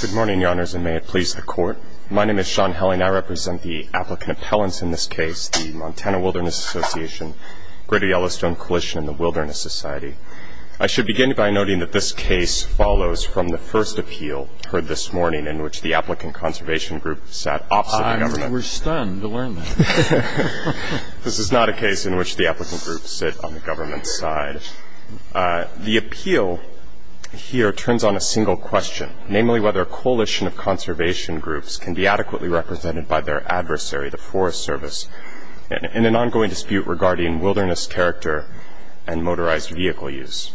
Good morning, Your Honors, and may it please the Court. My name is Sean Helling. I represent the applicant appellants in this case, the Montana Wilderness Association, Greater Yellowstone Coalition, and the Wilderness Society. I should begin by noting that this case follows from the first appeal heard this morning, in which the applicant conservation group sat opposite the government. I was stunned to learn that. This is not a case in which the applicant group sit on the government's side. The appeal here turns on a single question, namely whether a coalition of conservation groups can be adequately represented by their adversary, the Forest Service, in an ongoing dispute regarding wilderness character and motorized vehicle use.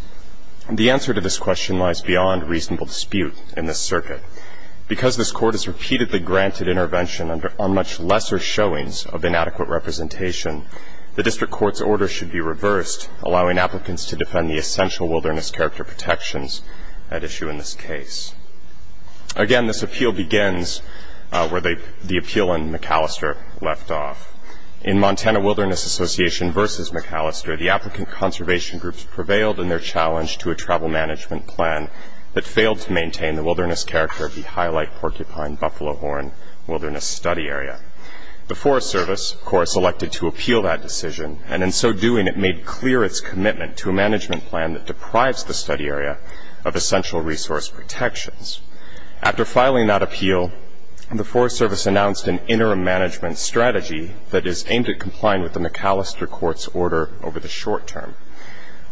The answer to this question lies beyond reasonable dispute in this circuit. Because this Court has repeatedly granted intervention on much lesser showings of inadequate representation, the District Court's order should be reversed, allowing applicants to defend the essential wilderness character protections at issue in this case. Again, this appeal begins where the appeal in McAllister left off. In Montana Wilderness Association v. McAllister, the applicant conservation groups prevailed in their challenge to a travel management plan that failed to maintain the wilderness character of the Highlight Porcupine-Buffalo Horn Wilderness Study Area. The Forest Service, of course, elected to appeal that decision, and in so doing it made clear its commitment to a management plan that deprives the study area of essential resource protections. After filing that appeal, the Forest Service announced an interim management strategy that is aimed at complying with the McAllister Court's order over the short term.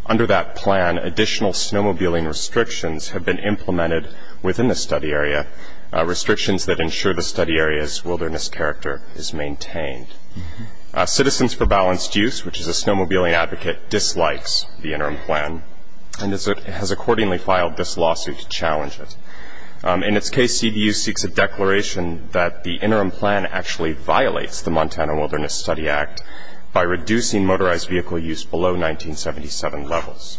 Under that plan, additional snowmobiling restrictions have been implemented within the study area, restrictions that ensure the study area's wilderness character is maintained. Citizens for Balanced Use, which is a snowmobiling advocate, dislikes the interim plan and has accordingly filed this lawsuit to challenge it. In its case, CBU seeks a declaration that the interim plan actually violates the Montana Wilderness Study Act by reducing motorized vehicle use below 1977 levels.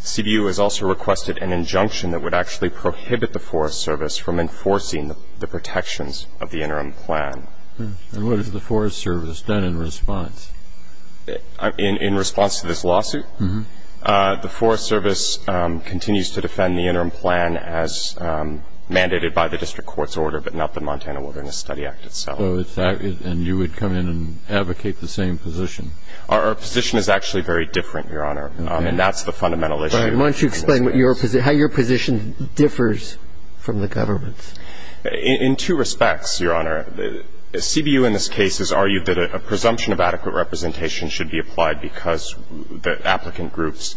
CBU has also requested an injunction that would actually prohibit the Forest Service from enforcing the protections of the interim plan. And what has the Forest Service done in response? In response to this lawsuit, the Forest Service continues to defend the interim plan as mandated by the district court's order but not the Montana Wilderness Study Act itself. And you would come in and advocate the same position? Our position is actually very different, Your Honor. And that's the fundamental issue. Go ahead. Why don't you explain how your position differs from the government's? In two respects, Your Honor. CBU in this case has argued that a presumption of adequate representation should be applied because the applicant groups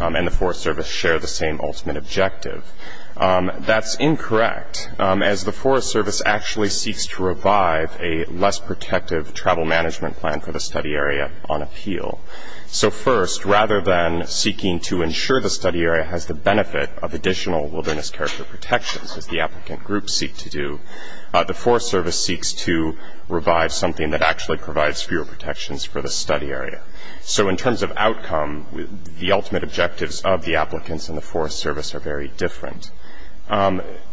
and the Forest Service share the same ultimate objective. That's incorrect, as the Forest Service actually seeks to revive a less protective travel management plan for the study area on appeal. So first, rather than seeking to ensure the study area has the benefit of additional wilderness character protections, as the applicant groups seek to do, the Forest Service seeks to revive something that actually provides fewer protections for the study area. So in terms of outcome, the ultimate objectives of the applicants and the Forest Service are very different.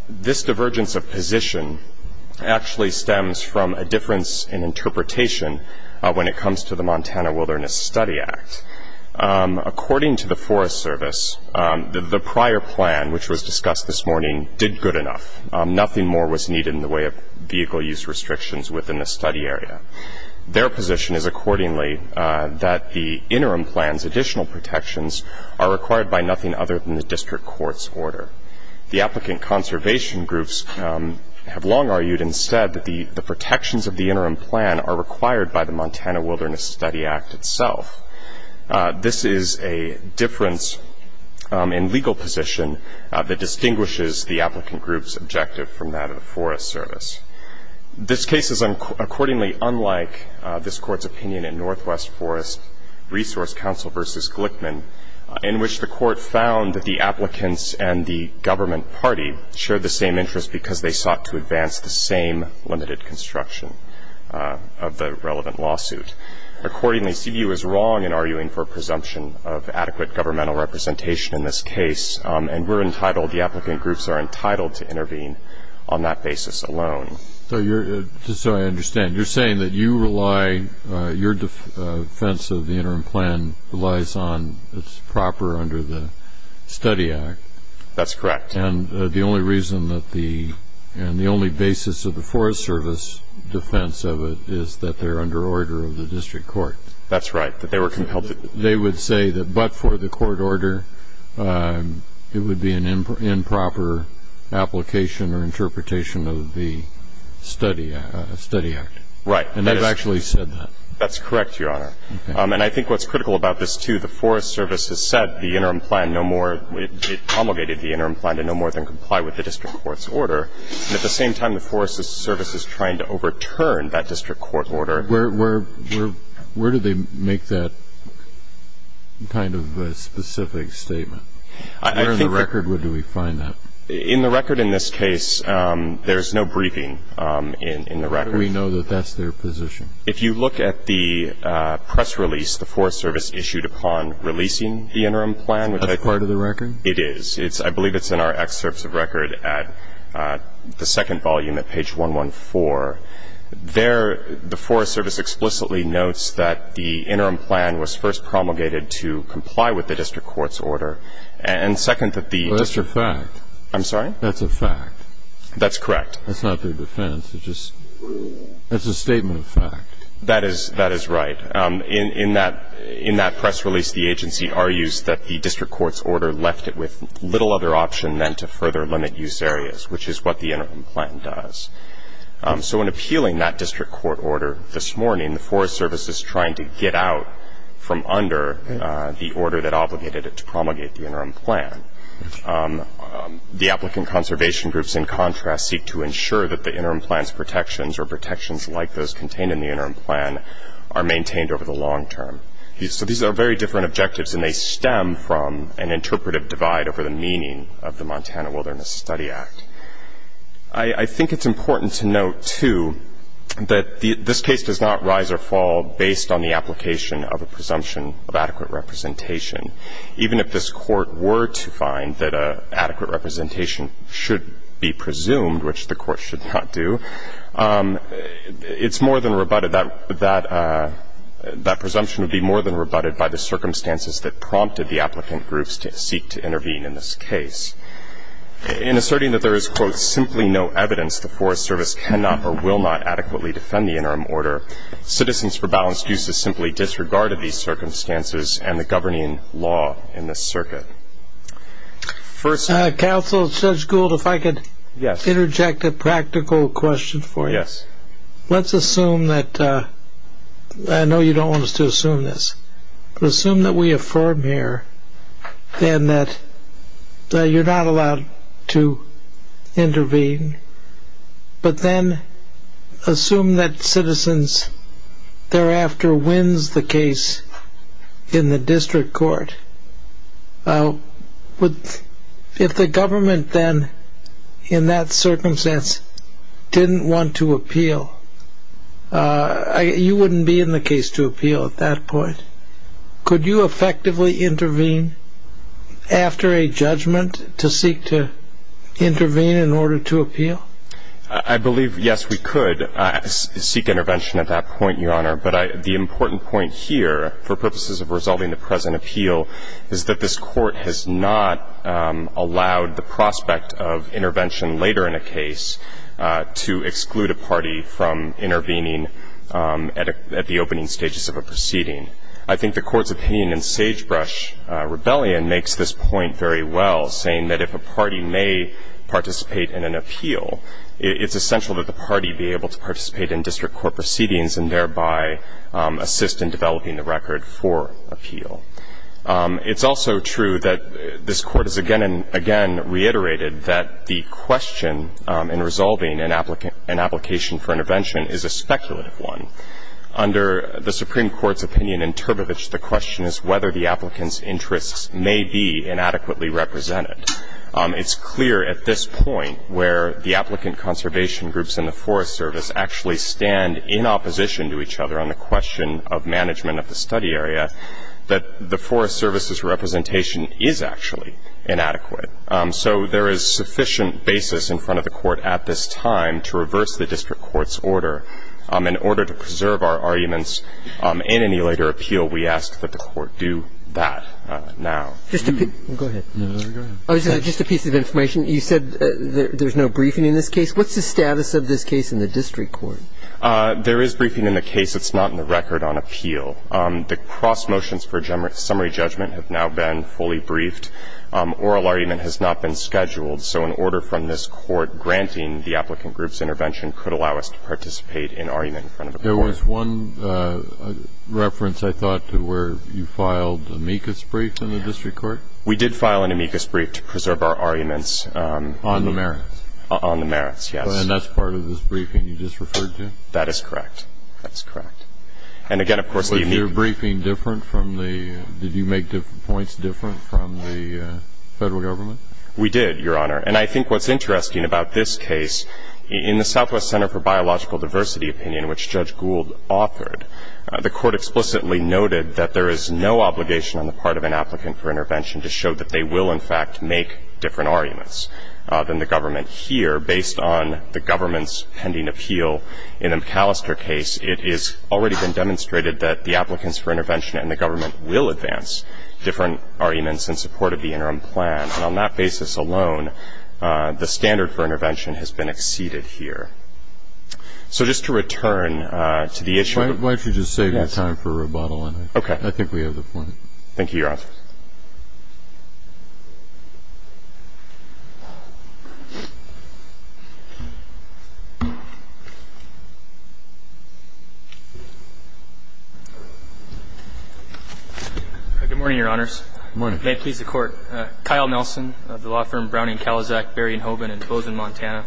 This divergence of position actually stems from a difference in interpretation when it comes to the Montana Wilderness Study Act. According to the Forest Service, the prior plan, which was discussed this morning, did good enough. Nothing more was needed in the way of vehicle use restrictions within the study area. Their position is accordingly that the interim plan's additional protections are required by nothing other than the district court's order. The applicant conservation groups have long argued instead that the protections of the interim plan are required by the Montana Wilderness Study Act itself. This is a difference in legal position that distinguishes the applicant group's objective from that of the Forest Service. This case is accordingly unlike this court's opinion in Northwest Forest Resource Council v. Glickman, in which the court found that the applicants and the government party shared the same interest because they sought to advance the same limited construction of the relevant lawsuit. Accordingly, CBU is wrong in arguing for a presumption of adequate governmental representation in this case, and we're entitled, the applicant groups are entitled to intervene on that basis alone. So you're, just so I understand, you're saying that you rely, your defense of the interim plan relies on, it's proper under the Study Act. That's correct. And the only reason that the, and the only basis of the Forest Service defense of it is that they're under order of the district court. That's right, that they were compelled to. They would say that but for the court order, it would be an improper application or interpretation of the Study Act. Right. And they've actually said that. That's correct, Your Honor. Okay. And I think what's critical about this, too, the Forest Service has said the interim plan no more, it promulgated the interim plan to no more than comply with the district court's order. And at the same time, the Forest Service is trying to overturn that district court order. Where do they make that kind of specific statement? Where in the record do we find that? In the record in this case, there's no briefing in the record. How do we know that that's their position? If you look at the press release the Forest Service issued upon releasing the interim plan. That's part of the record? It is. I believe it's in our excerpts of record at the second volume at page 114. There, the Forest Service explicitly notes that the interim plan was first promulgated to comply with the district court's order. And second, that the district court. Well, that's a fact. I'm sorry? That's a fact. That's correct. That's not their defense. It's just, that's a statement of fact. That is right. In that press release, the agency argues that the district court's order left it with little other option than to further limit use areas, which is what the interim plan does. So in appealing that district court order this morning, the Forest Service is trying to get out from under the order that obligated it to promulgate the interim plan. The applicant conservation groups, in contrast, seek to ensure that the interim plan's protections or protections like those contained in the interim plan are maintained over the long term. So these are very different objectives, and they stem from an interpretive divide over the meaning of the Montana Wilderness Study Act. I think it's important to note, too, that this case does not rise or fall based on the application of a presumption of adequate representation. Even if this court were to find that adequate representation should be presumed, which the court should not do, it's more than rebutted. That presumption would be more than rebutted by the circumstances that prompted the applicant groups to seek to intervene in this case. In asserting that there is, quote, simply no evidence the Forest Service cannot or will not adequately defend the interim order, Citizens for Balanced Uses simply disregarded these circumstances and the governing law in this circuit. Counsel Judge Gould, if I could interject a practical question for you. Let's assume that, I know you don't want us to assume this, but assume that we affirm here that you're not allowed to intervene, but then assume that Citizens thereafter wins the case in the district court. If the government then, in that circumstance, didn't want to appeal, you wouldn't be in the case to appeal at that point. Could you effectively intervene after a judgment to seek to intervene in order to appeal? I believe, yes, we could seek intervention at that point, Your Honor. But the important point here, for purposes of resolving the present appeal, is that this court has not allowed the prospect of intervention later in a case to exclude a party from intervening at the opening stages of a proceeding. I think the Court's opinion in Sagebrush Rebellion makes this point very well, saying that if a party may participate in an appeal, it's essential that the party be able to participate in district court proceedings and thereby assist in developing the record for appeal. It's also true that this Court has again and again reiterated that the question in resolving an application for intervention is a speculative one. Under the Supreme Court's opinion in Turbevich, the question is whether the applicant's interests may be inadequately represented. It's clear at this point where the applicant conservation groups and the Forest Service actually stand in opposition to each other on the question of management of the study area that the Forest Service's representation is actually inadequate. So there is sufficient basis in front of the Court at this time to reverse the district court's order. In order to preserve our arguments in any later appeal, we ask that the Court do that now. Go ahead. Just a piece of information. You said there's no briefing in this case. What's the status of this case in the district court? There is briefing in the case. It's not in the record on appeal. The cross motions for summary judgment have now been fully briefed. Oral argument has not been scheduled, so an order from this Court granting the applicant group's intervention could allow us to participate in argument in front of the Court. There was one reference, I thought, to where you filed amicus briefs in the district court. We did file an amicus brief to preserve our arguments. On the merits. On the merits, yes. And that's part of this briefing you just referred to? That is correct. That's correct. And again, of course, the amicus briefs. Did you make points different from the Federal Government? We did, Your Honor. And I think what's interesting about this case, in the Southwest Center for Biological Diversity opinion, which Judge Gould authored, the Court explicitly noted that there is no obligation on the part of an applicant for intervention to show that they will, in fact, make different arguments than the government here based on the government's pending appeal. In the McAllister case, it has already been demonstrated that the applicants for intervention and the government will advance different arguments in support of the interim plan. And on that basis alone, the standard for intervention has been exceeded here. So just to return to the issue. Why don't you just save that time for rebuttal? Okay. I think we have the point. Thank you, Your Honor. Good morning, Your Honors. Good morning. May it please the Court. Kyle Nelson of the law firm Browning-Kalizak, Berry & Hoban in Bozeman, Montana,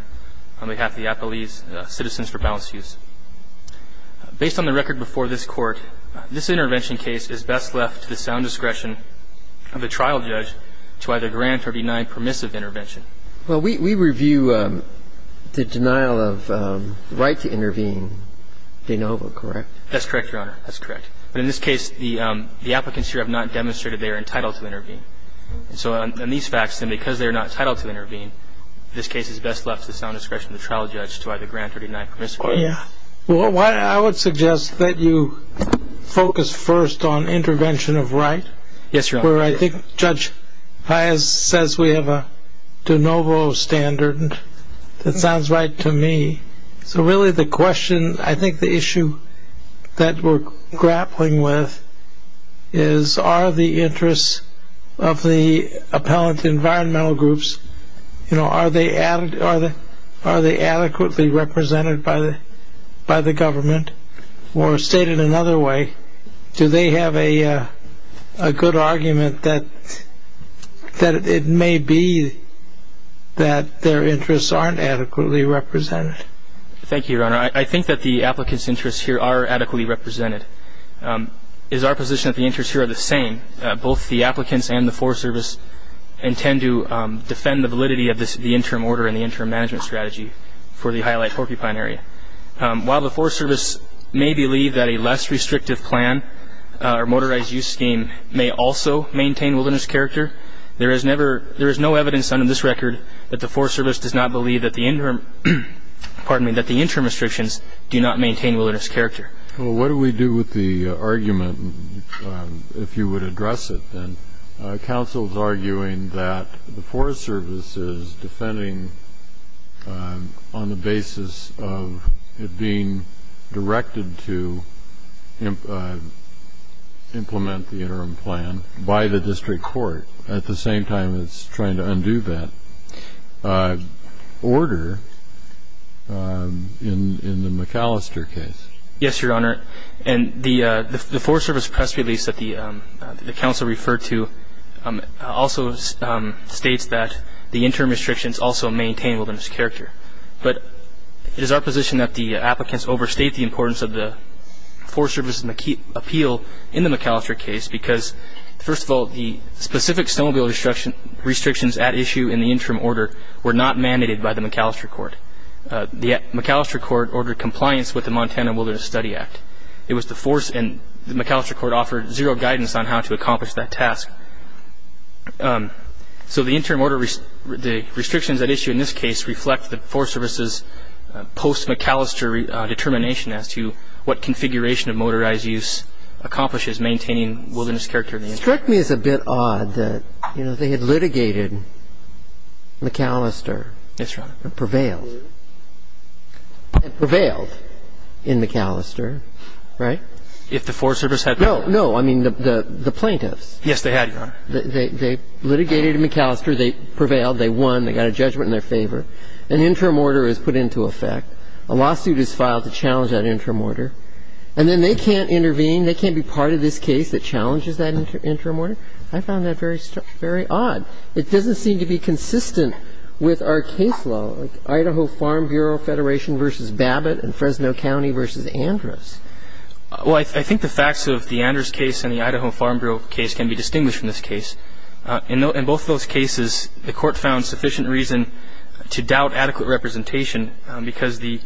on behalf of the Appalachian Citizens for Balance Use. Based on the record before this Court, this intervention case is best left to the sound discretion of the trial judge to either grant or deny permissive intervention. Well, we review the denial of right to intervene, de novo, correct? That's correct, Your Honor. That's correct. But in this case, the applicants here have not demonstrated they are entitled to intervene. So on these facts, and because they are not entitled to intervene, this case is best left to the sound discretion of the trial judge to either grant or deny permissive intervention. Yeah. Well, I would suggest that you focus first on intervention of right. Yes, Your Honor. Where I think Judge Pius says we have a de novo standard. That sounds right to me. So really the question, I think the issue that we're grappling with is, are the interests of the appellant environmental groups, you know, are they adequately represented by the government? Or stated another way, do they have a good argument that it may be that their interests aren't adequately represented? Thank you, Your Honor. I think that the applicants' interests here are adequately represented. It is our position that the interests here are the same. Both the applicants and the Forest Service intend to defend the validity of the interim order and the interim management strategy for the Highlight Porcupine Area. While the Forest Service may believe that a less restrictive plan or motorized use scheme may also maintain wilderness character, there is no evidence on this record that the Forest Service does not believe that the interim restrictions do not maintain wilderness character. Well, what do we do with the argument, if you would address it then? Counsel is arguing that the Forest Service is defending on the basis of it being directed to implement the interim plan by the district court at the same time it's trying to undo that order in the McAllister case. Yes, Your Honor. And the Forest Service press release that the counsel referred to also states that the interim restrictions also maintain wilderness character. But it is our position that the applicants overstate the importance of the Forest Service appeal in the McAllister case because, first of all, the specific snowmobile restrictions at issue in the interim order were not mandated by the McAllister court. The McAllister court ordered compliance with the Montana Wilderness Study Act. The McAllister court offered zero guidance on how to accomplish that task. So the restrictions at issue in this case reflect the Forest Service's post-McAllister determination as to what configuration of motorized use accomplishes maintaining wilderness character. It struck me as a bit odd that, you know, they had litigated McAllister. Yes, Your Honor. And prevailed. And prevailed in McAllister, right? If the Forest Service had prevailed. No, no. I mean, the plaintiffs. Yes, they had, Your Honor. They litigated in McAllister. They prevailed. They won. They got a judgment in their favor. An interim order was put into effect. A lawsuit is filed to challenge that interim order. And then they can't intervene. They can't be part of this case that challenges that interim order. I found that very odd. It doesn't seem to be consistent with our case law, Idaho Farm Bureau Federation v. Babbitt and Fresno County v. Andrus. Well, I think the facts of the Andrus case and the Idaho Farm Bureau case can be distinguished from this case. In both of those cases, the Court found sufficient reason to doubt adequate representation because the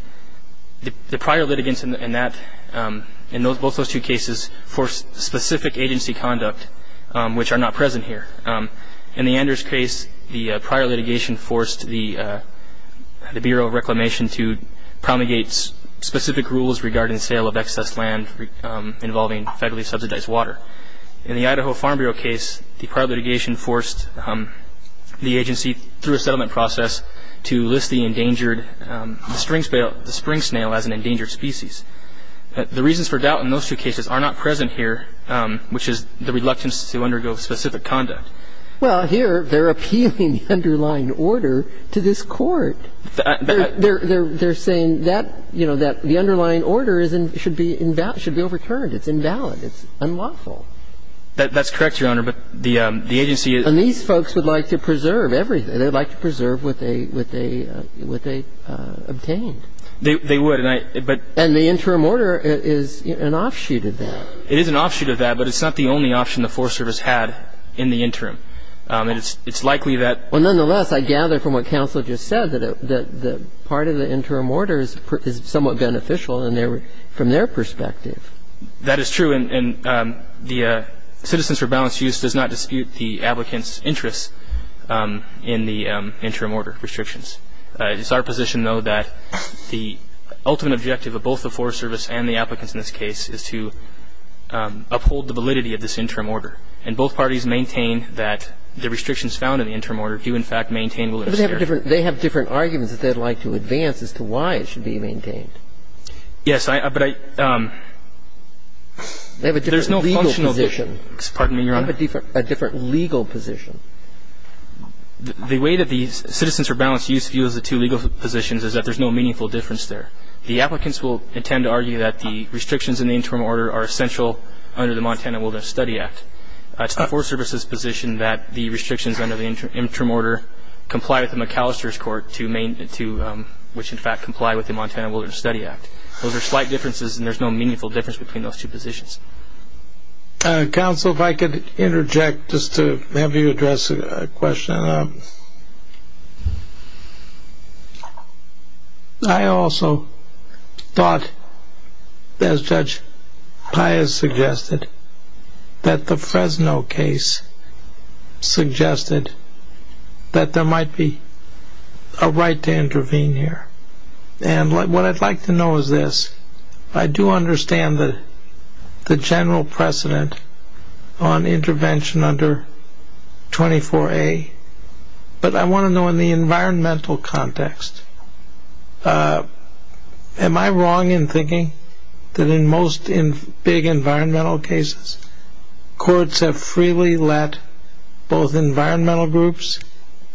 prior litigants in both those two cases forced specific agency conduct, which are not present here. In the Andrus case, the prior litigation forced the Bureau of Reclamation to promulgate specific rules regarding the sale of excess land involving federally subsidized water. In the Idaho Farm Bureau case, the prior litigation forced the agency, through a settlement process, to list the endangered spring snail as an endangered species. The reasons for doubt in those two cases are not present here, which is the reluctance to undergo specific conduct. Well, here they're appealing the underlying order to this Court. They're saying that, you know, that the underlying order should be overturned. It's invalid. It's unlawful. That's correct, Your Honor. And these folks would like to preserve everything. They'd like to preserve what they obtained. They would. And the interim order is an offshoot of that. It is an offshoot of that, but it's not the only option the Forest Service had in the interim. And it's likely that ---- Well, nonetheless, I gather from what counsel just said that part of the interim order is somewhat beneficial from their perspective. That is true. And the Citizens for Balanced Use does not dispute the applicants' interests in the interim order restrictions. It's our position, though, that the ultimate objective of both the Forest Service and the applicants in this case is to uphold the validity of this interim order. And both parties maintain that the restrictions found in the interim order do, in fact, maintain validity. They have different arguments that they'd like to advance as to why it should be maintained. Yes. But I ---- They have a different legal position. Pardon me, Your Honor. They have a different legal position. The way that the Citizens for Balanced Use views the two legal positions is that there's no meaningful difference there. The applicants will intend to argue that the restrictions in the interim order are essential under the Montana Wilderness Study Act. It's the Forest Service's position that the restrictions under the interim order comply with the McAllister's which, in fact, comply with the Montana Wilderness Study Act. Those are slight differences, and there's no meaningful difference between those two positions. Counsel, if I could interject just to have you address a question. I also thought, as Judge Pius suggested, that the Fresno case suggested that there might be a right to intervene here. What I'd like to know is this. I do understand the general precedent on intervention under 24A, but I want to know in the environmental context. Am I wrong in thinking that in most big environmental cases, courts have freely let both environmental groups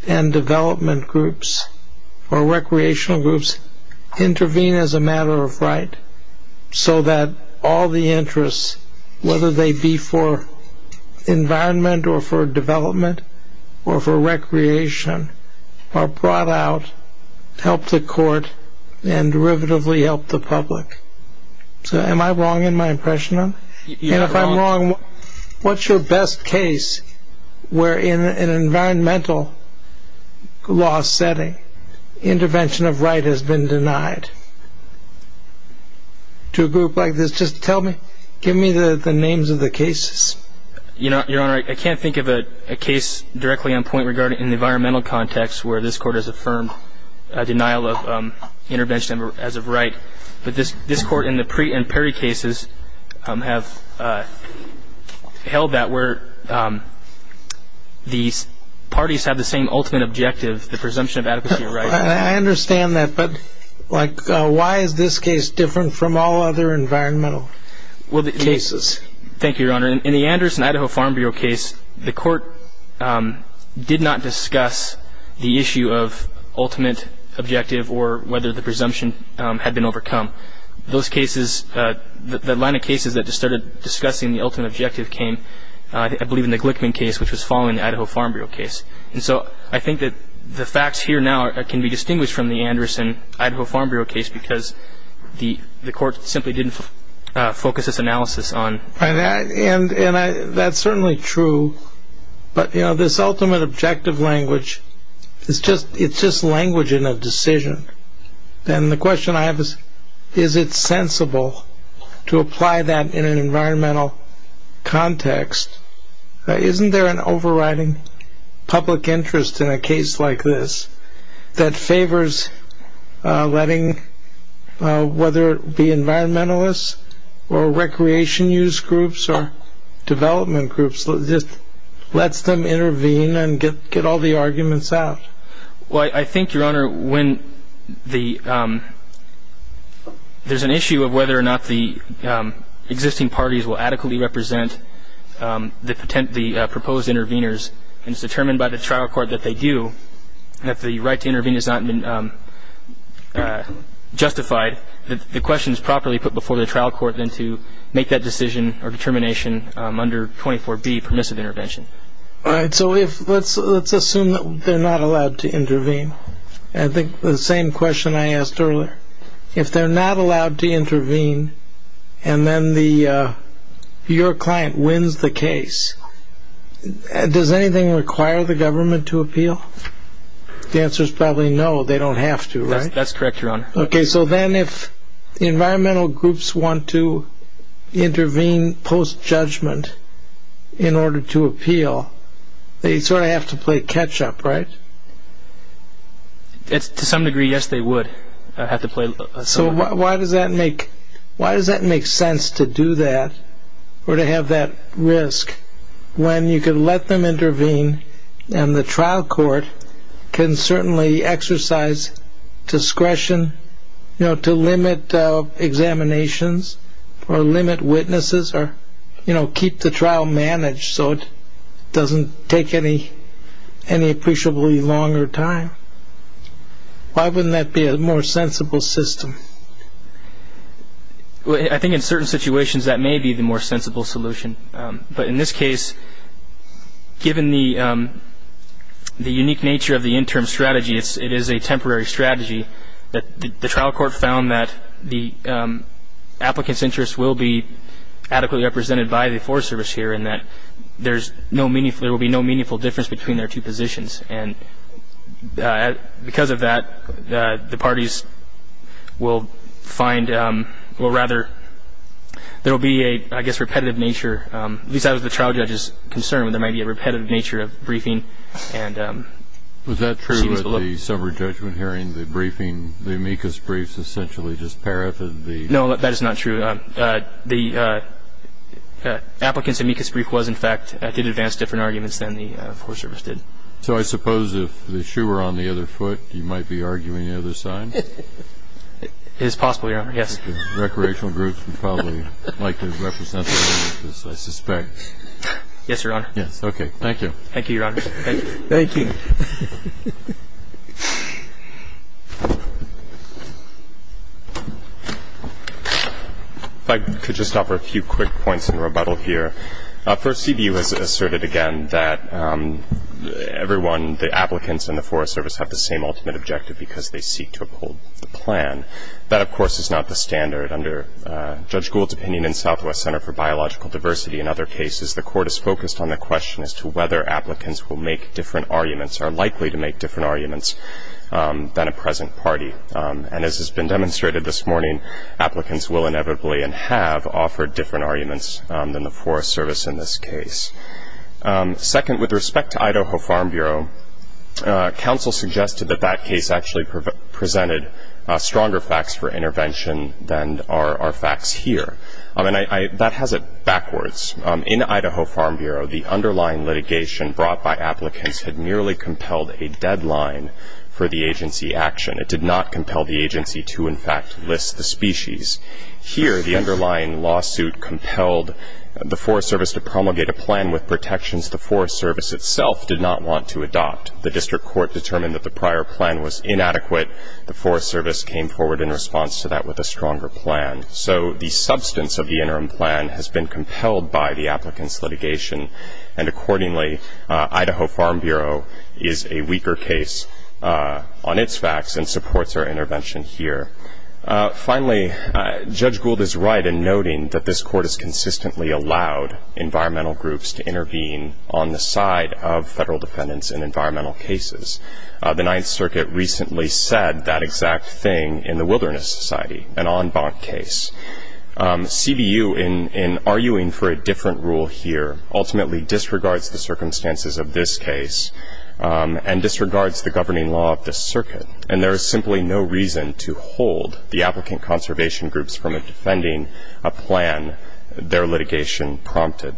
and development groups or recreational groups intervene as a matter of right so that all the interests, whether they be for environment or for development or for recreation, are brought out to help the court and derivatively help the public? Am I wrong in my impression? And if I'm wrong, what's your best case where, in an environmental law setting, intervention of right has been denied to a group like this? Just tell me. Give me the names of the cases. Your Honor, I can't think of a case directly on point regarding the environmental context where this Court has affirmed a denial of intervention as of right. But this Court in the Preet and Perry cases have held that where the parties have the same ultimate objective, the presumption of adequacy of rights. I understand that, but, like, why is this case different from all other environmental cases? Thank you, Your Honor. In the Anderson-Idaho Farm Bureau case, the Court did not discuss the issue of ultimate objective or whether the presumption had been overcome. Those cases, the line of cases that started discussing the ultimate objective came, I believe, in the Glickman case, which was following the Idaho Farm Bureau case. And so I think that the facts here now can be distinguished from the Anderson-Idaho Farm Bureau case because the Court simply didn't focus its analysis on. And that's certainly true. But, you know, this ultimate objective language, it's just language in a decision. And the question I have is, is it sensible to apply that in an environmental context? Isn't there an overriding public interest in a case like this that favors letting, whether it be environmentalists or recreation use groups or development groups, just lets them intervene and get all the arguments out? Well, I think, Your Honor, when there's an issue of whether or not the existing parties will adequately represent the proposed interveners, and it's determined by the trial court that they do, and if the right to intervene has not been justified, the question is properly put before the trial court then to make that decision or determination under 24B, permissive intervention. All right, so let's assume that they're not allowed to intervene. I think the same question I asked earlier. If they're not allowed to intervene and then your client wins the case, does anything require the government to appeal? The answer is probably no, they don't have to, right? That's correct, Your Honor. Okay, so then if environmental groups want to intervene post-judgment in order to appeal, they sort of have to play catch-up, right? To some degree, yes, they would have to play. So why does that make sense to do that or to have that risk when you can let them intervene and the trial court can certainly exercise discretion to limit examinations or limit witnesses or keep the trial managed so it doesn't take any appreciably longer time? Why wouldn't that be a more sensible system? I think in certain situations that may be the more sensible solution. But in this case, given the unique nature of the interim strategy, it is a temporary strategy. The trial court found that the applicant's interests will be adequately represented by the Forest Service here and that there will be no meaningful difference between their two positions. And because of that, the parties will find or rather there will be a, I guess, repetitive nature, at least as far as the trial judge is concerned, there may be a repetitive nature of briefing. Was that true at the summary judgment hearing, the briefing, the amicus briefs essentially just paraphrased the? No, that is not true. The applicant's amicus brief was, in fact, did advance different arguments than the Forest Service did. So I suppose if the shoe were on the other foot, you might be arguing the other side? It is possible, Your Honor. Yes. Recreational groups would probably like to represent the amicus, I suspect. Yes, Your Honor. Yes. Okay. Thank you. Thank you, Your Honor. Thank you. If I could just offer a few quick points in rebuttal here. First, CBU has asserted again that everyone, the applicants and the Forest Service, have the same ultimate objective because they seek to uphold the plan. That, of course, is not the standard. Under Judge Gould's opinion in Southwest Center for Biological Diversity and other cases, the court is focused on the question as to whether applicants will make different arguments, are likely to make different arguments, than a present party. And as has been demonstrated this morning, applicants will inevitably and have offered different arguments than the Forest Service in this case. Second, with respect to Idaho Farm Bureau, counsel suggested that that case actually presented stronger facts for intervention than are facts here. That has it backwards. In Idaho Farm Bureau, the underlying litigation brought by applicants had merely compelled a deadline for the agency action. It did not compel the agency to, in fact, list the species. Here, the underlying lawsuit compelled the Forest Service to promulgate a plan with protections the Forest Service itself did not want to adopt. The district court determined that the prior plan was inadequate. The Forest Service came forward in response to that with a stronger plan. So the substance of the interim plan has been compelled by the applicant's litigation. And accordingly, Idaho Farm Bureau is a weaker case on its facts and supports our intervention here. Finally, Judge Gould is right in noting that this court has consistently allowed environmental groups to intervene on the side of federal defendants in environmental cases. The Ninth Circuit recently said that exact thing in the Wilderness Society, an en banc case. CBU, in arguing for a different rule here, ultimately disregards the circumstances of this case and disregards the governing law of this circuit. And there is simply no reason to hold the applicant conservation groups from defending a plan their litigation prompted.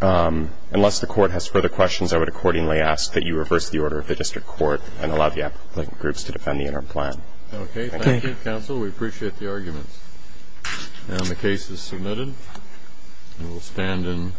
Unless the Court has further questions, I would accordingly ask that you reverse the order of the district court and allow the applicant groups to defend the interim plan. Okay. Thank you, counsel. We appreciate the arguments. And the case is submitted. We will stand in adjournment. Thank you, counsel. We will stand in adjournment.